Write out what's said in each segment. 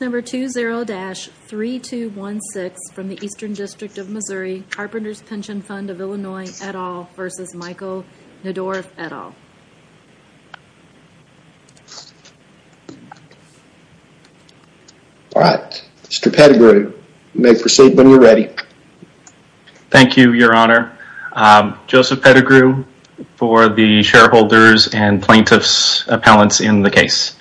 All right. Mr. Pettigrew, you may proceed when you're ready. Thank you, Your Honor. Joseph Pettigrew for the shareholders and plaintiffs' appellants in the case.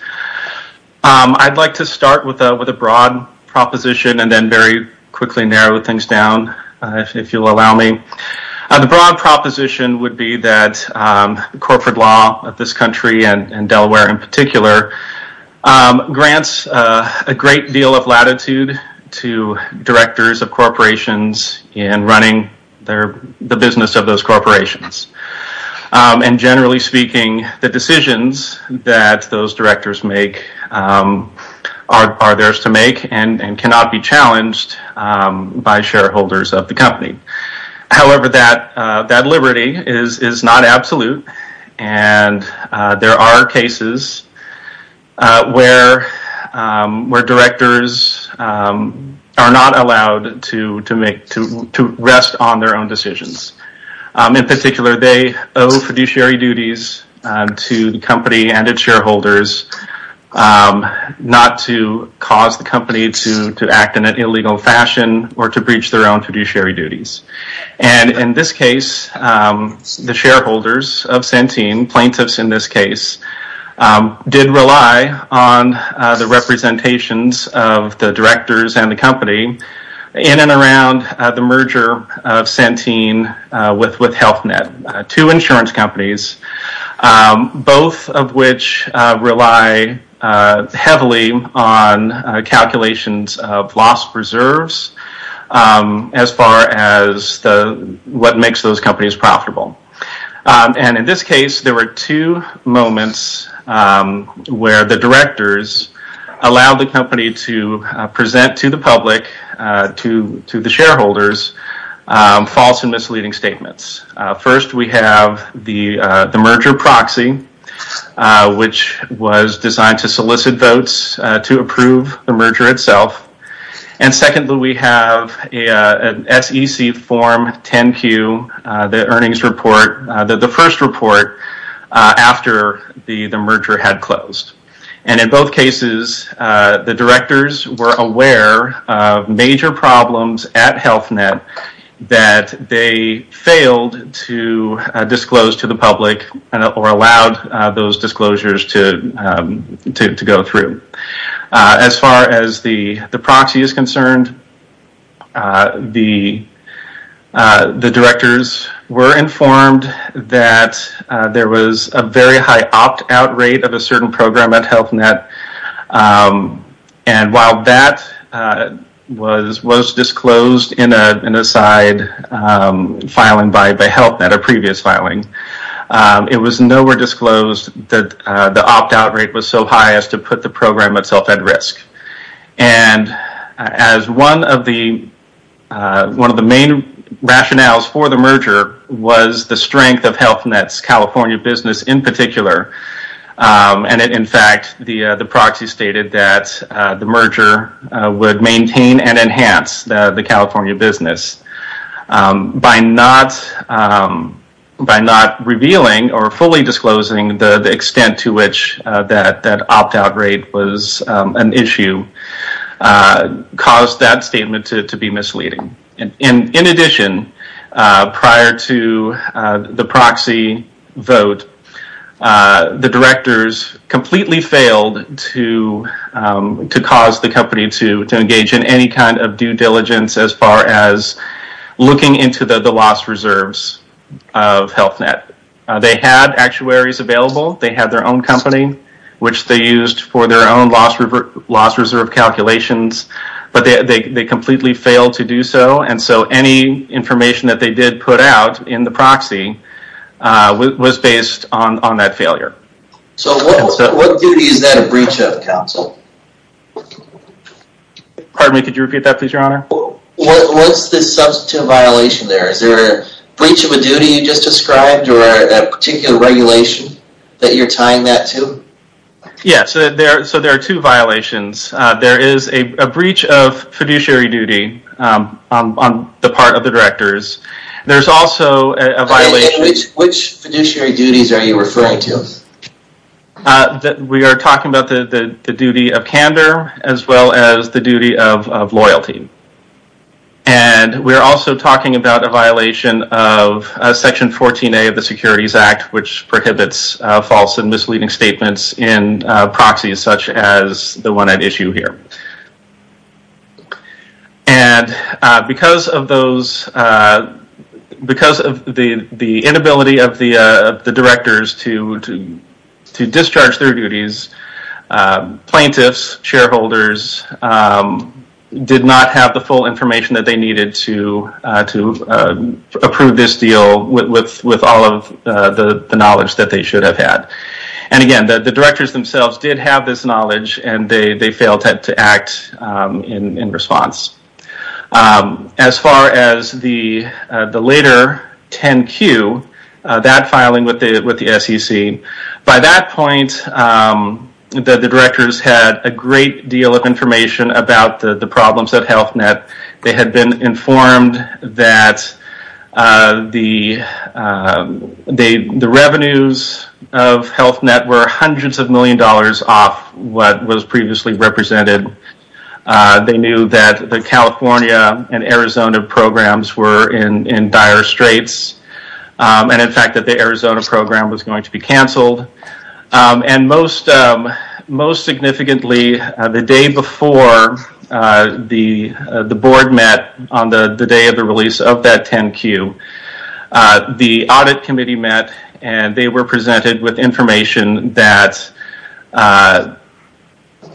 I'd like to start with a broad proposition and then very quickly narrow things down if you'll allow me. The broad proposition would be that corporate law of this country and Delaware in particular grants a great deal of latitude to directors of corporations in running the business of those corporations. Generally speaking, the decisions that those directors make are theirs to make and cannot be challenged by shareholders of the company. However, that liberty is not absolute. There are cases where directors are not allowed to rest on their own decisions. In particular, they owe fiduciary duties to the company and its shareholders not to cause the company to act in an illegal fashion or to breach their own fiduciary duties. In this case, the shareholders of Centene, plaintiffs in this case, did rely on the representations of the directors and the company in and around the merger of Centene with Health Net, two insurance companies, both of which rely heavily on calculations of loss preserves as far as what makes those companies profitable. In this case, there were two moments where the directors allowed the company to present to the public, to the shareholders, false and misleading statements. First, we have the merger proxy, which was designed to solicit votes to approve the merger itself. Secondly, we have an SEC Form 10-Q, the first report after the merger had closed. In both cases, the directors were aware of major problems at Health Net that they failed to disclose to the public or allowed those disclosures to go through. As far as the proxy is concerned, the directors were informed that there was a very high opt-out rate of a certain program at Health Net. While that was disclosed in a side filing by Health Net, a previous filing, it was nowhere disclosed that the opt-out rate was so high as to put the program itself at risk. As one of the main rationales for the merger was the strength of Health Net's California business in particular, and in fact, the proxy stated that the merger would maintain and enhance the California business. By not revealing or fully disclosing the extent to which that opt-out rate was an issue caused that statement to be misleading. In addition, prior to the proxy vote, the directors completely failed to cause the company to engage in any kind of due diligence as far as looking into the loss reserves of Health Net. They had actuaries available, they had their own company, which they used for their own loss reserve calculations, but they completely failed to do so. Any information that they did put out in the public would be based on that failure. So what duty is that a breach of, counsel? Pardon me, could you repeat that please, your honor? What's the substantive violation there? Is there a breach of a duty you just described or a particular regulation that you're tying that to? Yeah, so there are two violations. There is a breach of fiduciary duty on the part of the We are talking about the duty of candor as well as the duty of loyalty. And we're also talking about a violation of Section 14a of the Securities Act, which prohibits false and misleading statements in proxies such as the one at issue here. And because of the inability of the directors to discharge their duties, plaintiffs, shareholders did not have the full information that they needed to approve this deal with all of the knowledge that they should have had. And again, the directors themselves did have this knowledge and they the SEC. By that point, the directors had a great deal of information about the problems of Health Net. They had been informed that the revenues of Health Net were hundreds of million dollars off what was previously represented. They knew that the California and Arizona programs were in dire straits. And in fact, that the Arizona program was going to be canceled. And most significantly, the day before the board met on the day of the release of that 10Q, the audit committee met and they were presented with information that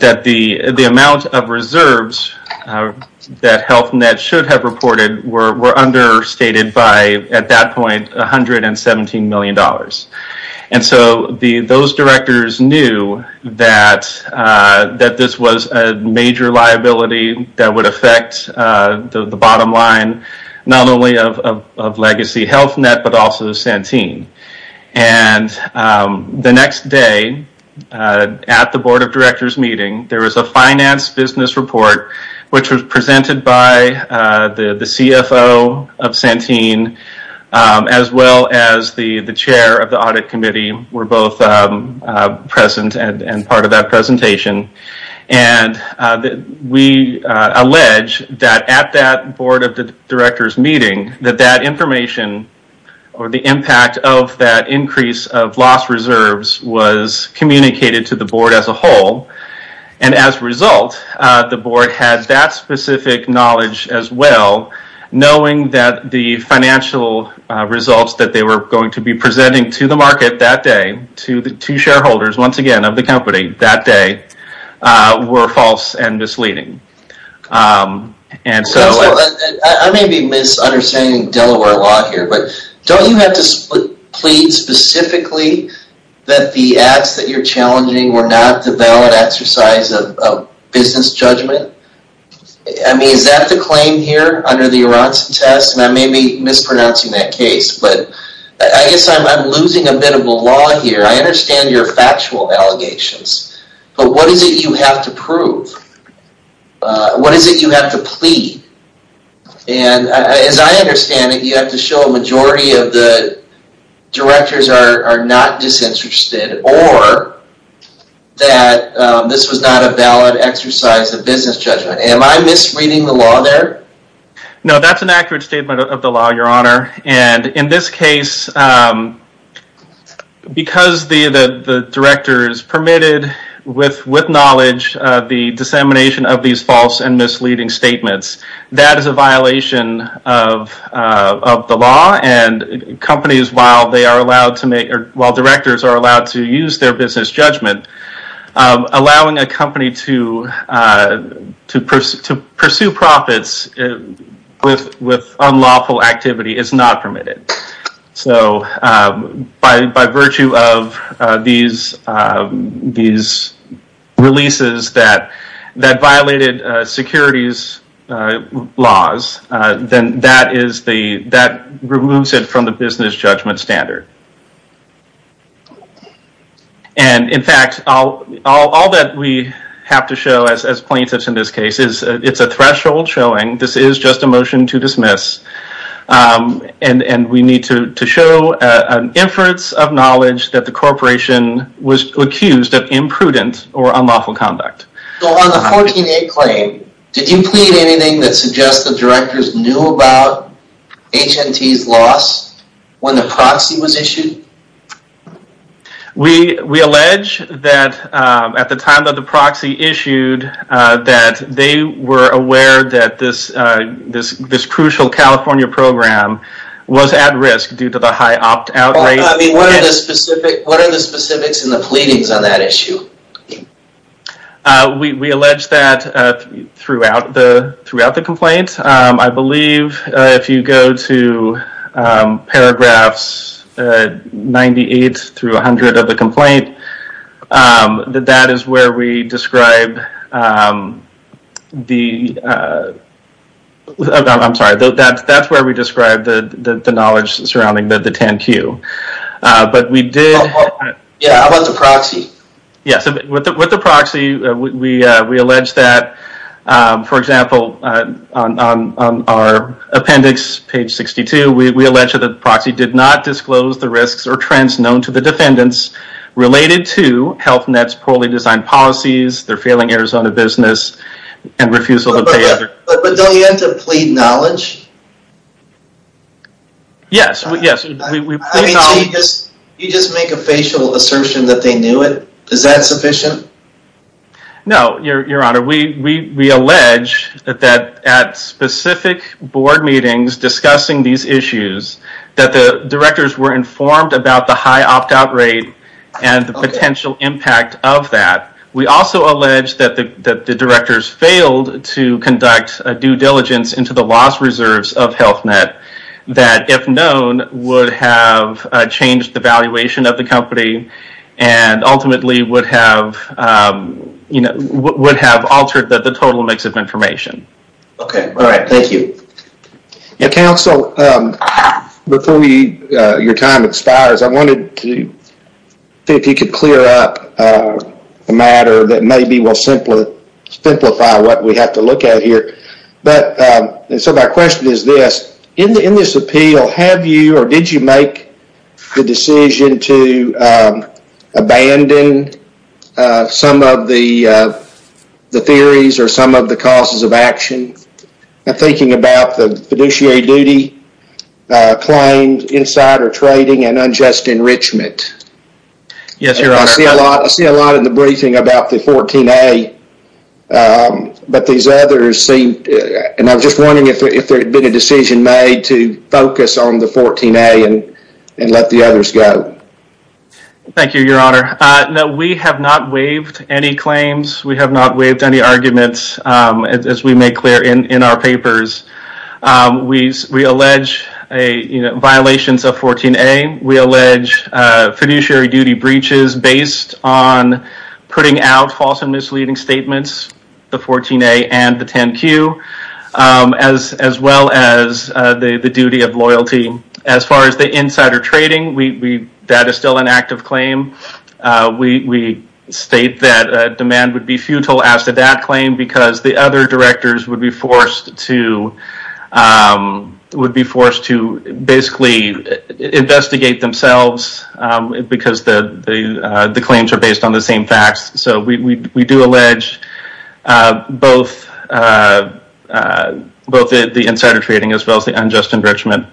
the amount of reserves that Health Net should have reported were understated by, at that point, 117 million dollars. And so those directors knew that this was a major liability that would affect the bottom line, not only of legacy Health Net, but also Santine. And the next day at the board of directors meeting, we received a business report, which was presented by the CFO of Santine, as well as the chair of the audit committee were both present and part of that presentation. And we allege that at that board of directors meeting, that that information or the impact of that increase of lost reserves was communicated to the board as a whole. And as a result, the board had that specific knowledge as well, knowing that the financial results that they were going to be presenting to the market that day, to the two shareholders, once again, of the company that day, were false and misleading. I may be misunderstanding Delaware law here, but don't you have to plead specifically that the acts that you're challenging were not the valid exercise of business judgment? I mean, is that the claim here under the Aronson test? And I may be mispronouncing that case, but I guess I'm losing a bit of a law here. I understand your factual allegations, but what is it you have to prove? What is it you have to plead? And as I understand it, you have to show a majority of the directors are not disinterested or that this was not a valid exercise of business judgment. Am I misreading the law there? No, that's an accurate statement of the law, your honor. And in this case, because the directors permitted, with knowledge, the dissemination of these false and misleading statements, that is a violation of the law. And companies, while they are allowed to make, or while directors are allowed to use their business judgment, allowing a company to pursue profits with unlawful activity is not permitted. So by virtue of these releases that violated securities laws, then that removes it from the business judgment standard. And in fact, all that we have to show, as plaintiffs in this case, is it's a threshold showing this is just a motion to dismiss. And we need to show an inference of knowledge that the corporation was accused of imprudent or unlawful conduct. So on the 14A claim, did you plead anything that suggests the directors knew about HNT's loss when the proxy was issued? We allege that at the time that the proxy issued, that they were aware that this crucial California program was at risk due to the high opt-out rate. I mean, what are the specifics in the pleadings on that issue? We allege that throughout the complaint. I believe if you go to paragraphs 98 through 100 of the complaint, that that is where we describe the, I'm sorry, that's where we describe the knowledge surrounding the TANQ. But we did... Yeah, about the proxy? Yeah, so with the proxy, we allege that, for example, on our appendix, page 62, we allege that the proxy did not disclose the risks or trends known to the defendants related to Health Net's poorly designed policies, their failing Arizona business, and refusal to pay other... But don't you have to plead knowledge? Yes, yes. I mean, so you just make a facial assertion that they knew it? Is that sufficient? No, Your Honor, we allege that at specific board meetings discussing these issues, that the directors were informed about the high opt-out rate and the potential impact of that. We also allege that the directors failed to conduct a due diligence into the loss reserves of Health Net, that, if known, would have changed the valuation of the company and ultimately would have, you know, would have altered the total mix of information. Okay, all right. Thank you. Counsel, before your time expires, I wanted to see if you could clear up a matter that maybe will simplify what we have to look at here. But, and so my question is this, in this appeal, have you or did you make the decision to abandon some of the theories or some of the causes of action? I'm thinking about the fiduciary duty claims, insider trading, and unjust enrichment. Yes, Your Honor. I see a lot in the briefing about the 14A, but these others seem, and I'm just wondering if there had been a decision made to focus on the 14A and let the others go. Thank you, Your Honor. No, we have not waived any claims. We have not waived any arguments, as we make clear in our papers. We allege violations of 14A. We allege fiduciary duty breaches based on putting out false and misleading statements, the 14A and the 10Q, as well as the duty of loyalty. As far as the insider trading, that is still an active claim. We state that demand would be futile as to that claim because the other directors would be forced to basically investigate themselves because the claims are based on the same facts. So we do allege both the insider trading as well as the unjust enrichment.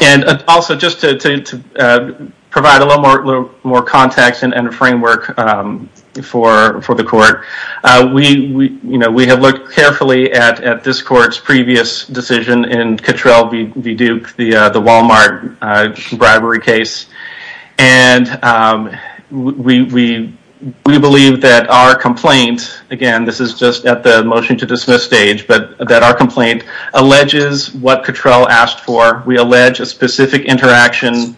And also, just to provide a little more context and a framework for the court, we have looked carefully at this court's previous decision in Cattrell v. Duke, the Walmart bribery case, and we believe that our complaint, again, this is just at the motion to dismiss stage, but that our complaint alleges what Cattrell asked for. We allege a specific interaction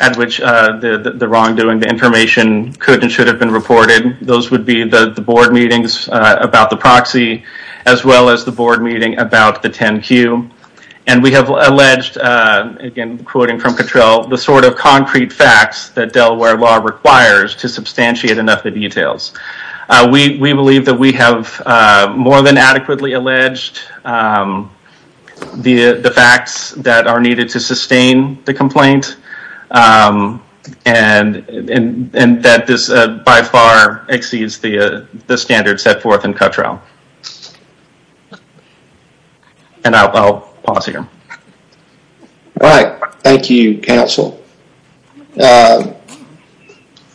at which the wrongdoing, the information, could and should have been reported. Those would be the board meetings about the proxy, as well as the board meeting about the 10Q. And we have alleged, again, quoting from Cattrell, the sort of concrete facts that Delaware law requires to substantiate enough of the details. We believe that we have more than adequately alleged the facts that are needed to sustain the complaint and that this by far exceeds the standards set forth in Cattrell. And I'll pause here. All right. Thank you, counsel. Mr.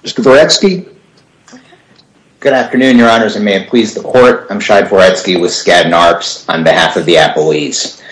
Voretsky. Good afternoon, your honors. I may have pleased the court. I'm Shai Voretsky with Skadden Arps on behalf of the appellees.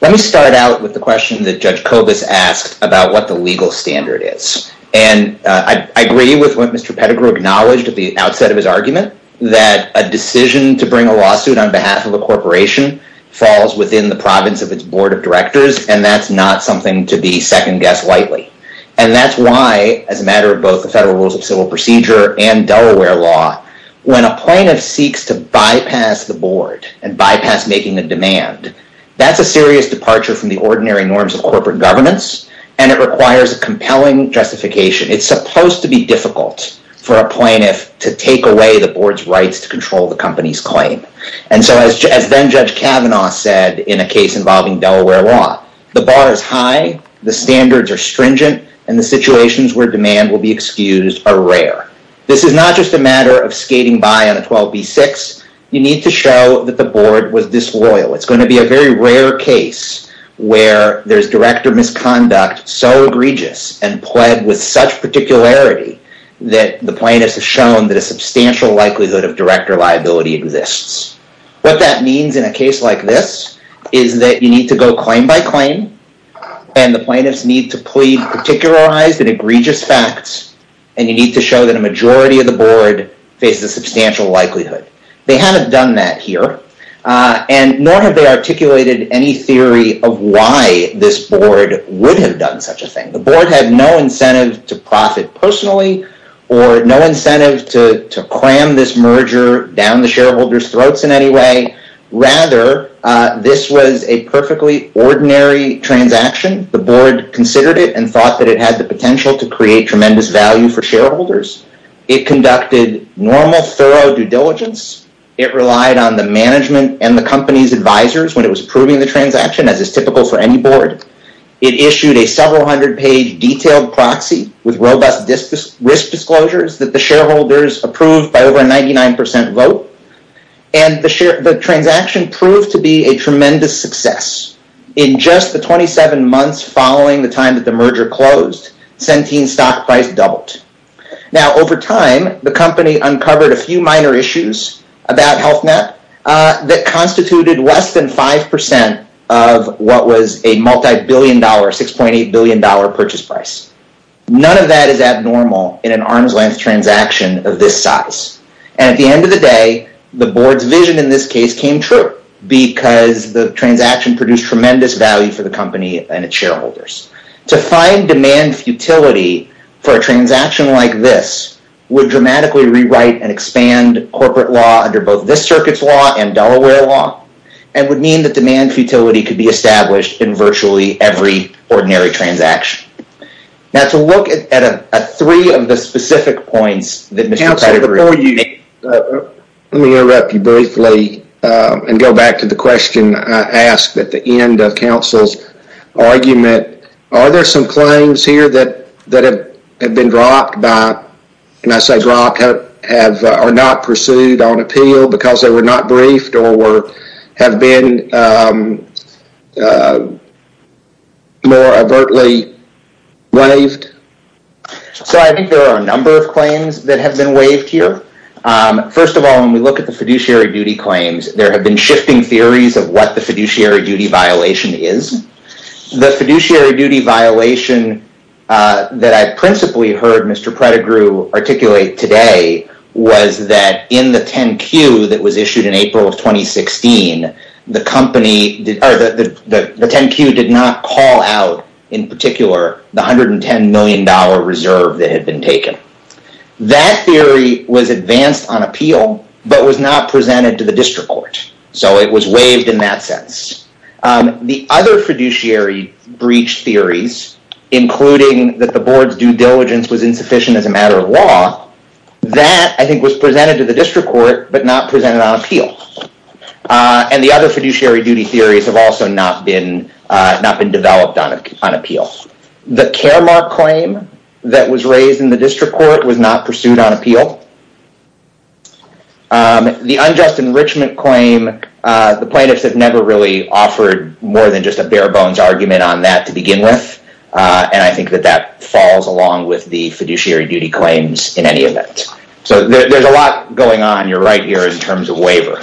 Let me start out with the question that Judge Kobus asked about what the legal standard is. And I agree with what Mr. Pettigrew acknowledged at the outset of his argument, that a decision to bring a lawsuit on behalf of a corporation falls within the province of its board of directors. And that's not something to be second-guessed lightly. And that's why, as a matter of both the federal rules of civil procedure and Delaware law, when a plaintiff seeks to bypass the board and bypass making the demand, that's a serious departure from the ordinary norms of corporate governance. And it requires a compelling justification. It's supposed to be difficult for a plaintiff to take away the board's rights to control the company's claim. And so, as then Judge Kavanaugh said in a case involving Delaware law, the bar is high, the standards are stringent, and the situations where demand will be excused are rare. This is not just a matter of skating by on a 12B6. You need to show that the board was disloyal. It's going to be a very rare case where there's director misconduct so egregious and pled with such particularity that the plaintiffs have shown that a substantial likelihood of director liability exists. What that means in a case like this is that you need to go claim by claim and the plaintiffs need to plead particularized and egregious facts. And you need to show that a majority of the board faces a substantial likelihood. They haven't done that here. And nor have they articulated any theory of why this board would have done such a thing. The board had no incentive to profit personally or no incentive to cram this merger down the shareholders' throats in any way. Rather, this was a perfectly ordinary transaction. The board considered it and thought that it had the potential to create tremendous value for shareholders. It conducted normal, thorough due diligence. It relied on the management and the company's advisors when it was approving the transaction, as is typical for any board. It issued a several hundred page detailed proxy with robust risk disclosures that the shareholders approved by over a 99 percent vote. And the transaction proved to be a tremendous success. In just the 27 months following the time that the merger closed, Centene's stock price doubled. Now, over time, the company uncovered a few minor issues about HealthNet that constituted less than 5 percent of what was a multi-billion dollar, 6.8 billion dollar purchase price. None of that is abnormal in an arm's length transaction of this size. And at the end of the day, the board's vision in this case came true because the transaction produced tremendous value for the company and its shareholders. To find demand futility for a transaction like this would dramatically rewrite and expand corporate law under both this circuit's law and Delaware law. And would mean that demand futility could be established in virtually every ordinary transaction. Now, to look at three of the specific points that Mr. Pettigrew made. Let me interrupt you briefly and go back to the question I asked at the end of counsel's argument. Are there some claims here that have been dropped by, and I say dropped, are not pursued on appeal because they were not briefed or have been more overtly waived? So, I think there are a number of claims that have been waived here. First of all, when we look at the fiduciary duty claims, there have been shifting theories of what the fiduciary duty violation is. The fiduciary duty violation that I principally heard Mr. Pettigrew articulate today was that in the 10Q that was issued in April of 2016, the 10Q did not call out, in particular, the $110 million dollar reserve that had been taken. That theory was advanced on appeal, but was not presented to the district court. So, it was waived in that sense. The other fiduciary breach theories, including that the board's due diligence was insufficient as a matter of law, that, I think, was presented to the district court, but not presented on appeal. And the other fiduciary duty theories have also not been developed on appeal. The Caremark claim that was raised in the district court was not pursued on appeal. The unjust enrichment claim, the plaintiffs have never really offered more than just a bare bones argument on that to begin with, and I think that that falls along with the fiduciary duty claims in any event. So, there's a lot going on. You're right here in terms of waiver.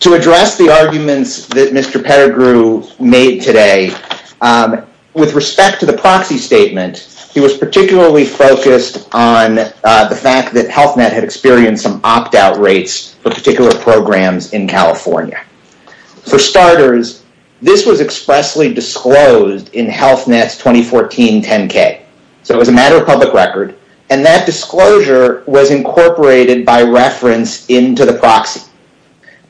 To address the arguments that Mr. Pettigrew made today, with respect to the proxy statement, he was particularly focused on the fact that Health Net had experienced some opt-out rates for particular programs in California. For starters, this was expressly disclosed in Health Net's 2014 10K. So, it was a matter of public record, and that disclosure was incorporated by reference into the proxy.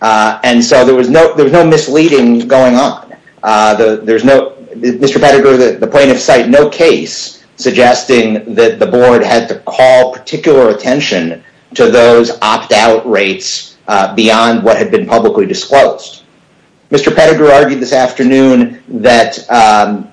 And so, there was no misleading going on. Mr. Pettigrew, the plaintiffs cite no case suggesting that the board had to call particular attention to those opt-out rates beyond what had been publicly disclosed. Mr. Pettigrew argued this afternoon that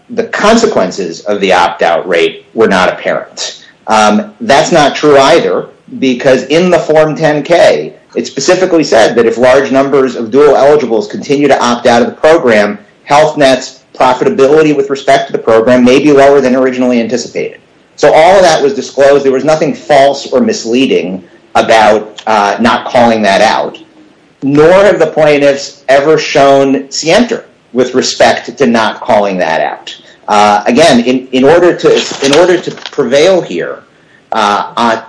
the consequences of the opt-out rate were not apparent. That's not true either, because in the form 10K, it specifically said that if large numbers of dual eligibles continue to opt out of the program, Health Net's profitability with respect to the program may be lower than originally anticipated. So, all of that was disclosed. There was nothing false or misleading about not calling that out. Nor have the plaintiffs ever shown scienter with respect to not calling that out. Again, in order to prevail here,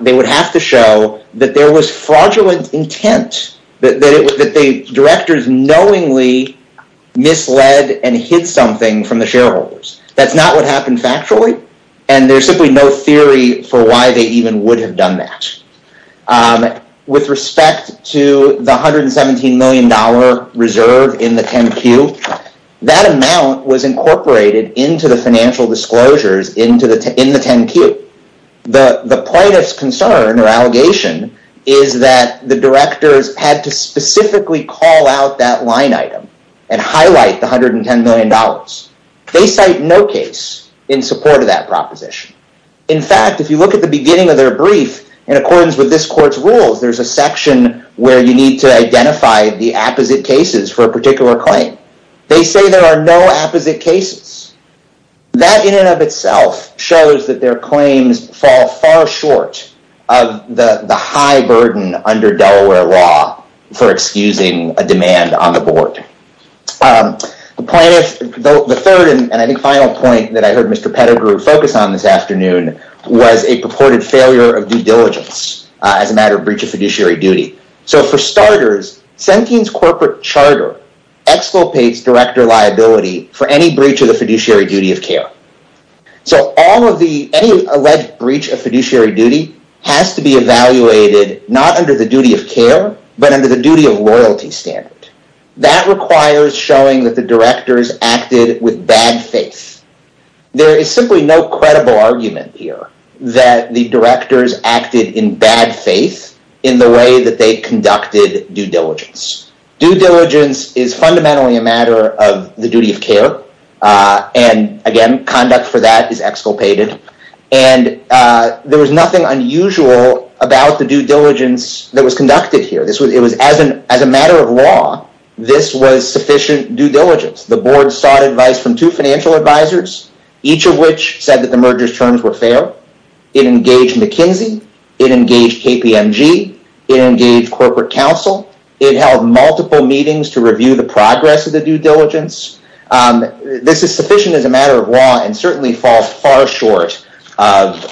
they would have to show that there was fraudulent intent, that the directors knowingly misled and hid something from the shareholders. That's not what happened factually, and there's simply no theory for why they even would have done that. With respect to the $117 million reserve in the 10Q, that amount was incorporated into the financial disclosures in the 10Q. The plaintiff's concern or allegation is that the directors had to specifically call out that line item and highlight the $110 million. In fact, if you look at the beginning of their brief, in accordance with this court's rules, there's a section where you need to identify the opposite cases for a particular claim. They say there are no opposite cases. That in and of itself shows that their claims fall far short of the high burden under Delaware law for excusing a demand on the board. The third and I think final point that I heard Mr. Pettigrew focus on this afternoon was a purported failure of due diligence as a matter of breach of fiduciary duty. For starters, Centene's corporate charter exculpates director liability for any breach of the fiduciary duty of care. Any alleged breach of fiduciary duty has to be evaluated not under the duty of care, but under the duty of loyalty standard. That requires showing that the directors acted with bad faith. There is simply no credible argument here that the directors acted in bad faith in the way that they conducted due diligence. Due diligence is fundamentally a matter of the duty of care. Again, conduct for that is exculpated. There was nothing unusual about the due diligence that was conducted here. As a matter of law, this was sufficient due diligence. The board sought advice from two financial advisors, each of which said that the merger's terms were fair. It engaged McKinsey. It engaged KPMG. It engaged corporate counsel. It held multiple meetings to review the progress of the due diligence. This is sufficient as a matter of law and certainly falls far short of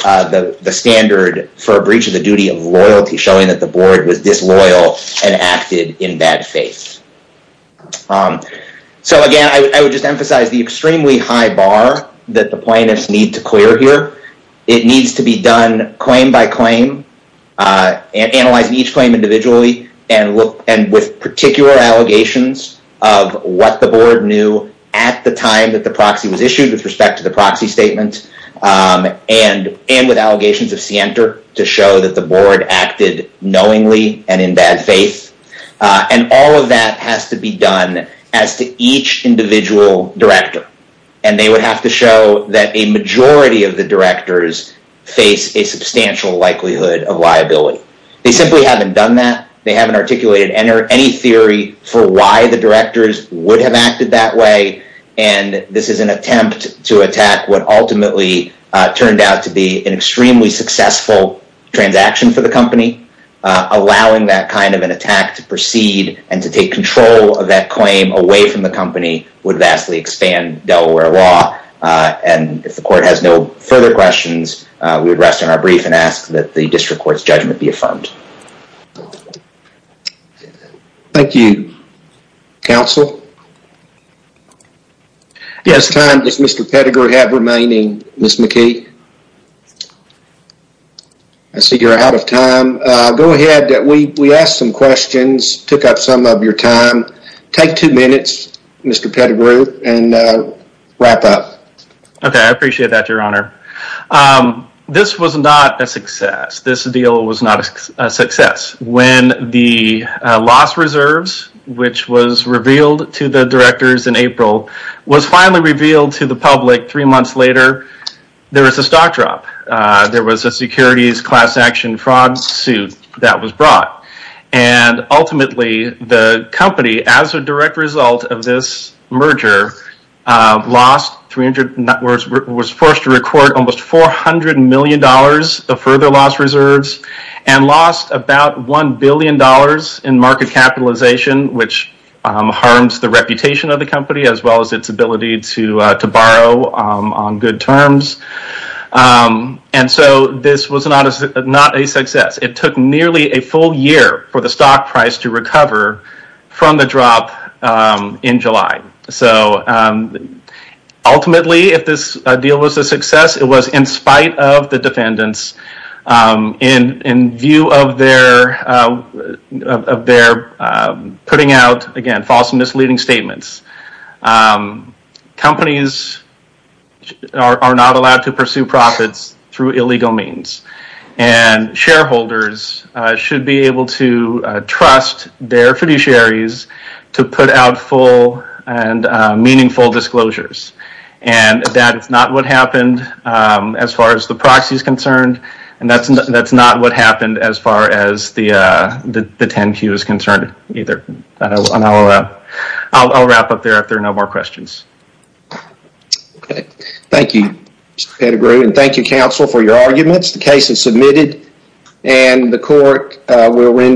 the standard for a breach of the duty of loyalty, showing that the board was disloyal and acted in bad faith. Again, I would just emphasize the extremely high bar that the plaintiffs need to clear here. It needs to be done claim by claim, analyzing each claim individually, and with particular allegations of what the board knew at the time that the proxy was issued with respect to the proxy statement and with allegations of scienter to show that the board acted knowingly and in bad faith. All of that has to be done as to each individual director. They would have to show that a majority of the directors face a substantial likelihood of liability. They simply haven't done that. They haven't articulated any theory for why the directors would have acted that way. This is an attempt to attack what ultimately turned out to be an extremely successful transaction for the company. Allowing that kind of an attack to proceed and to take control of that claim away from the company would vastly expand Delaware law. If the court has no further questions, we would rest on our brief and ask that the district court's judgment be affirmed. Thank you, counsel. At this time, does Mr. Pettigrew have remaining, Ms. McKee? I see you're out of time. Go ahead. We asked some questions, took up some of your time. Take two minutes, Mr. Pettigrew, and wrap up. Okay. I appreciate that, your honor. This was not a success. This deal was not a success. When the loss reserves, which was revealed to the directors in April, was finally revealed to the public three months later, there was a stock drop. There was a securities class action fraud suit that was brought. Ultimately, the company, as a direct result of this merger, was forced to record almost $400 million of further loss reserves and lost about $1 billion in market capitalization, which harms the reputation of the company as well as its ability to borrow on good terms. This was not a success. It took nearly a full year for the stock price to recover from the drop in July. So, ultimately, if this deal was a success, it was in spite of the defendants in view of their putting out, again, false and misleading statements. Companies are not allowed to pursue profits through illegal means. And shareholders should be able to trust their fiduciaries to put out full and meaningful disclosures. And that is not what happened as far as the proxy is concerned. And that's not what happened as far as the 10Q is concerned either. I'll wrap up there if there are no more questions. Okay. Thank you, Mr. Pettigrew. And thank you, counsel, for your arguments. The case is submitted. And the court will render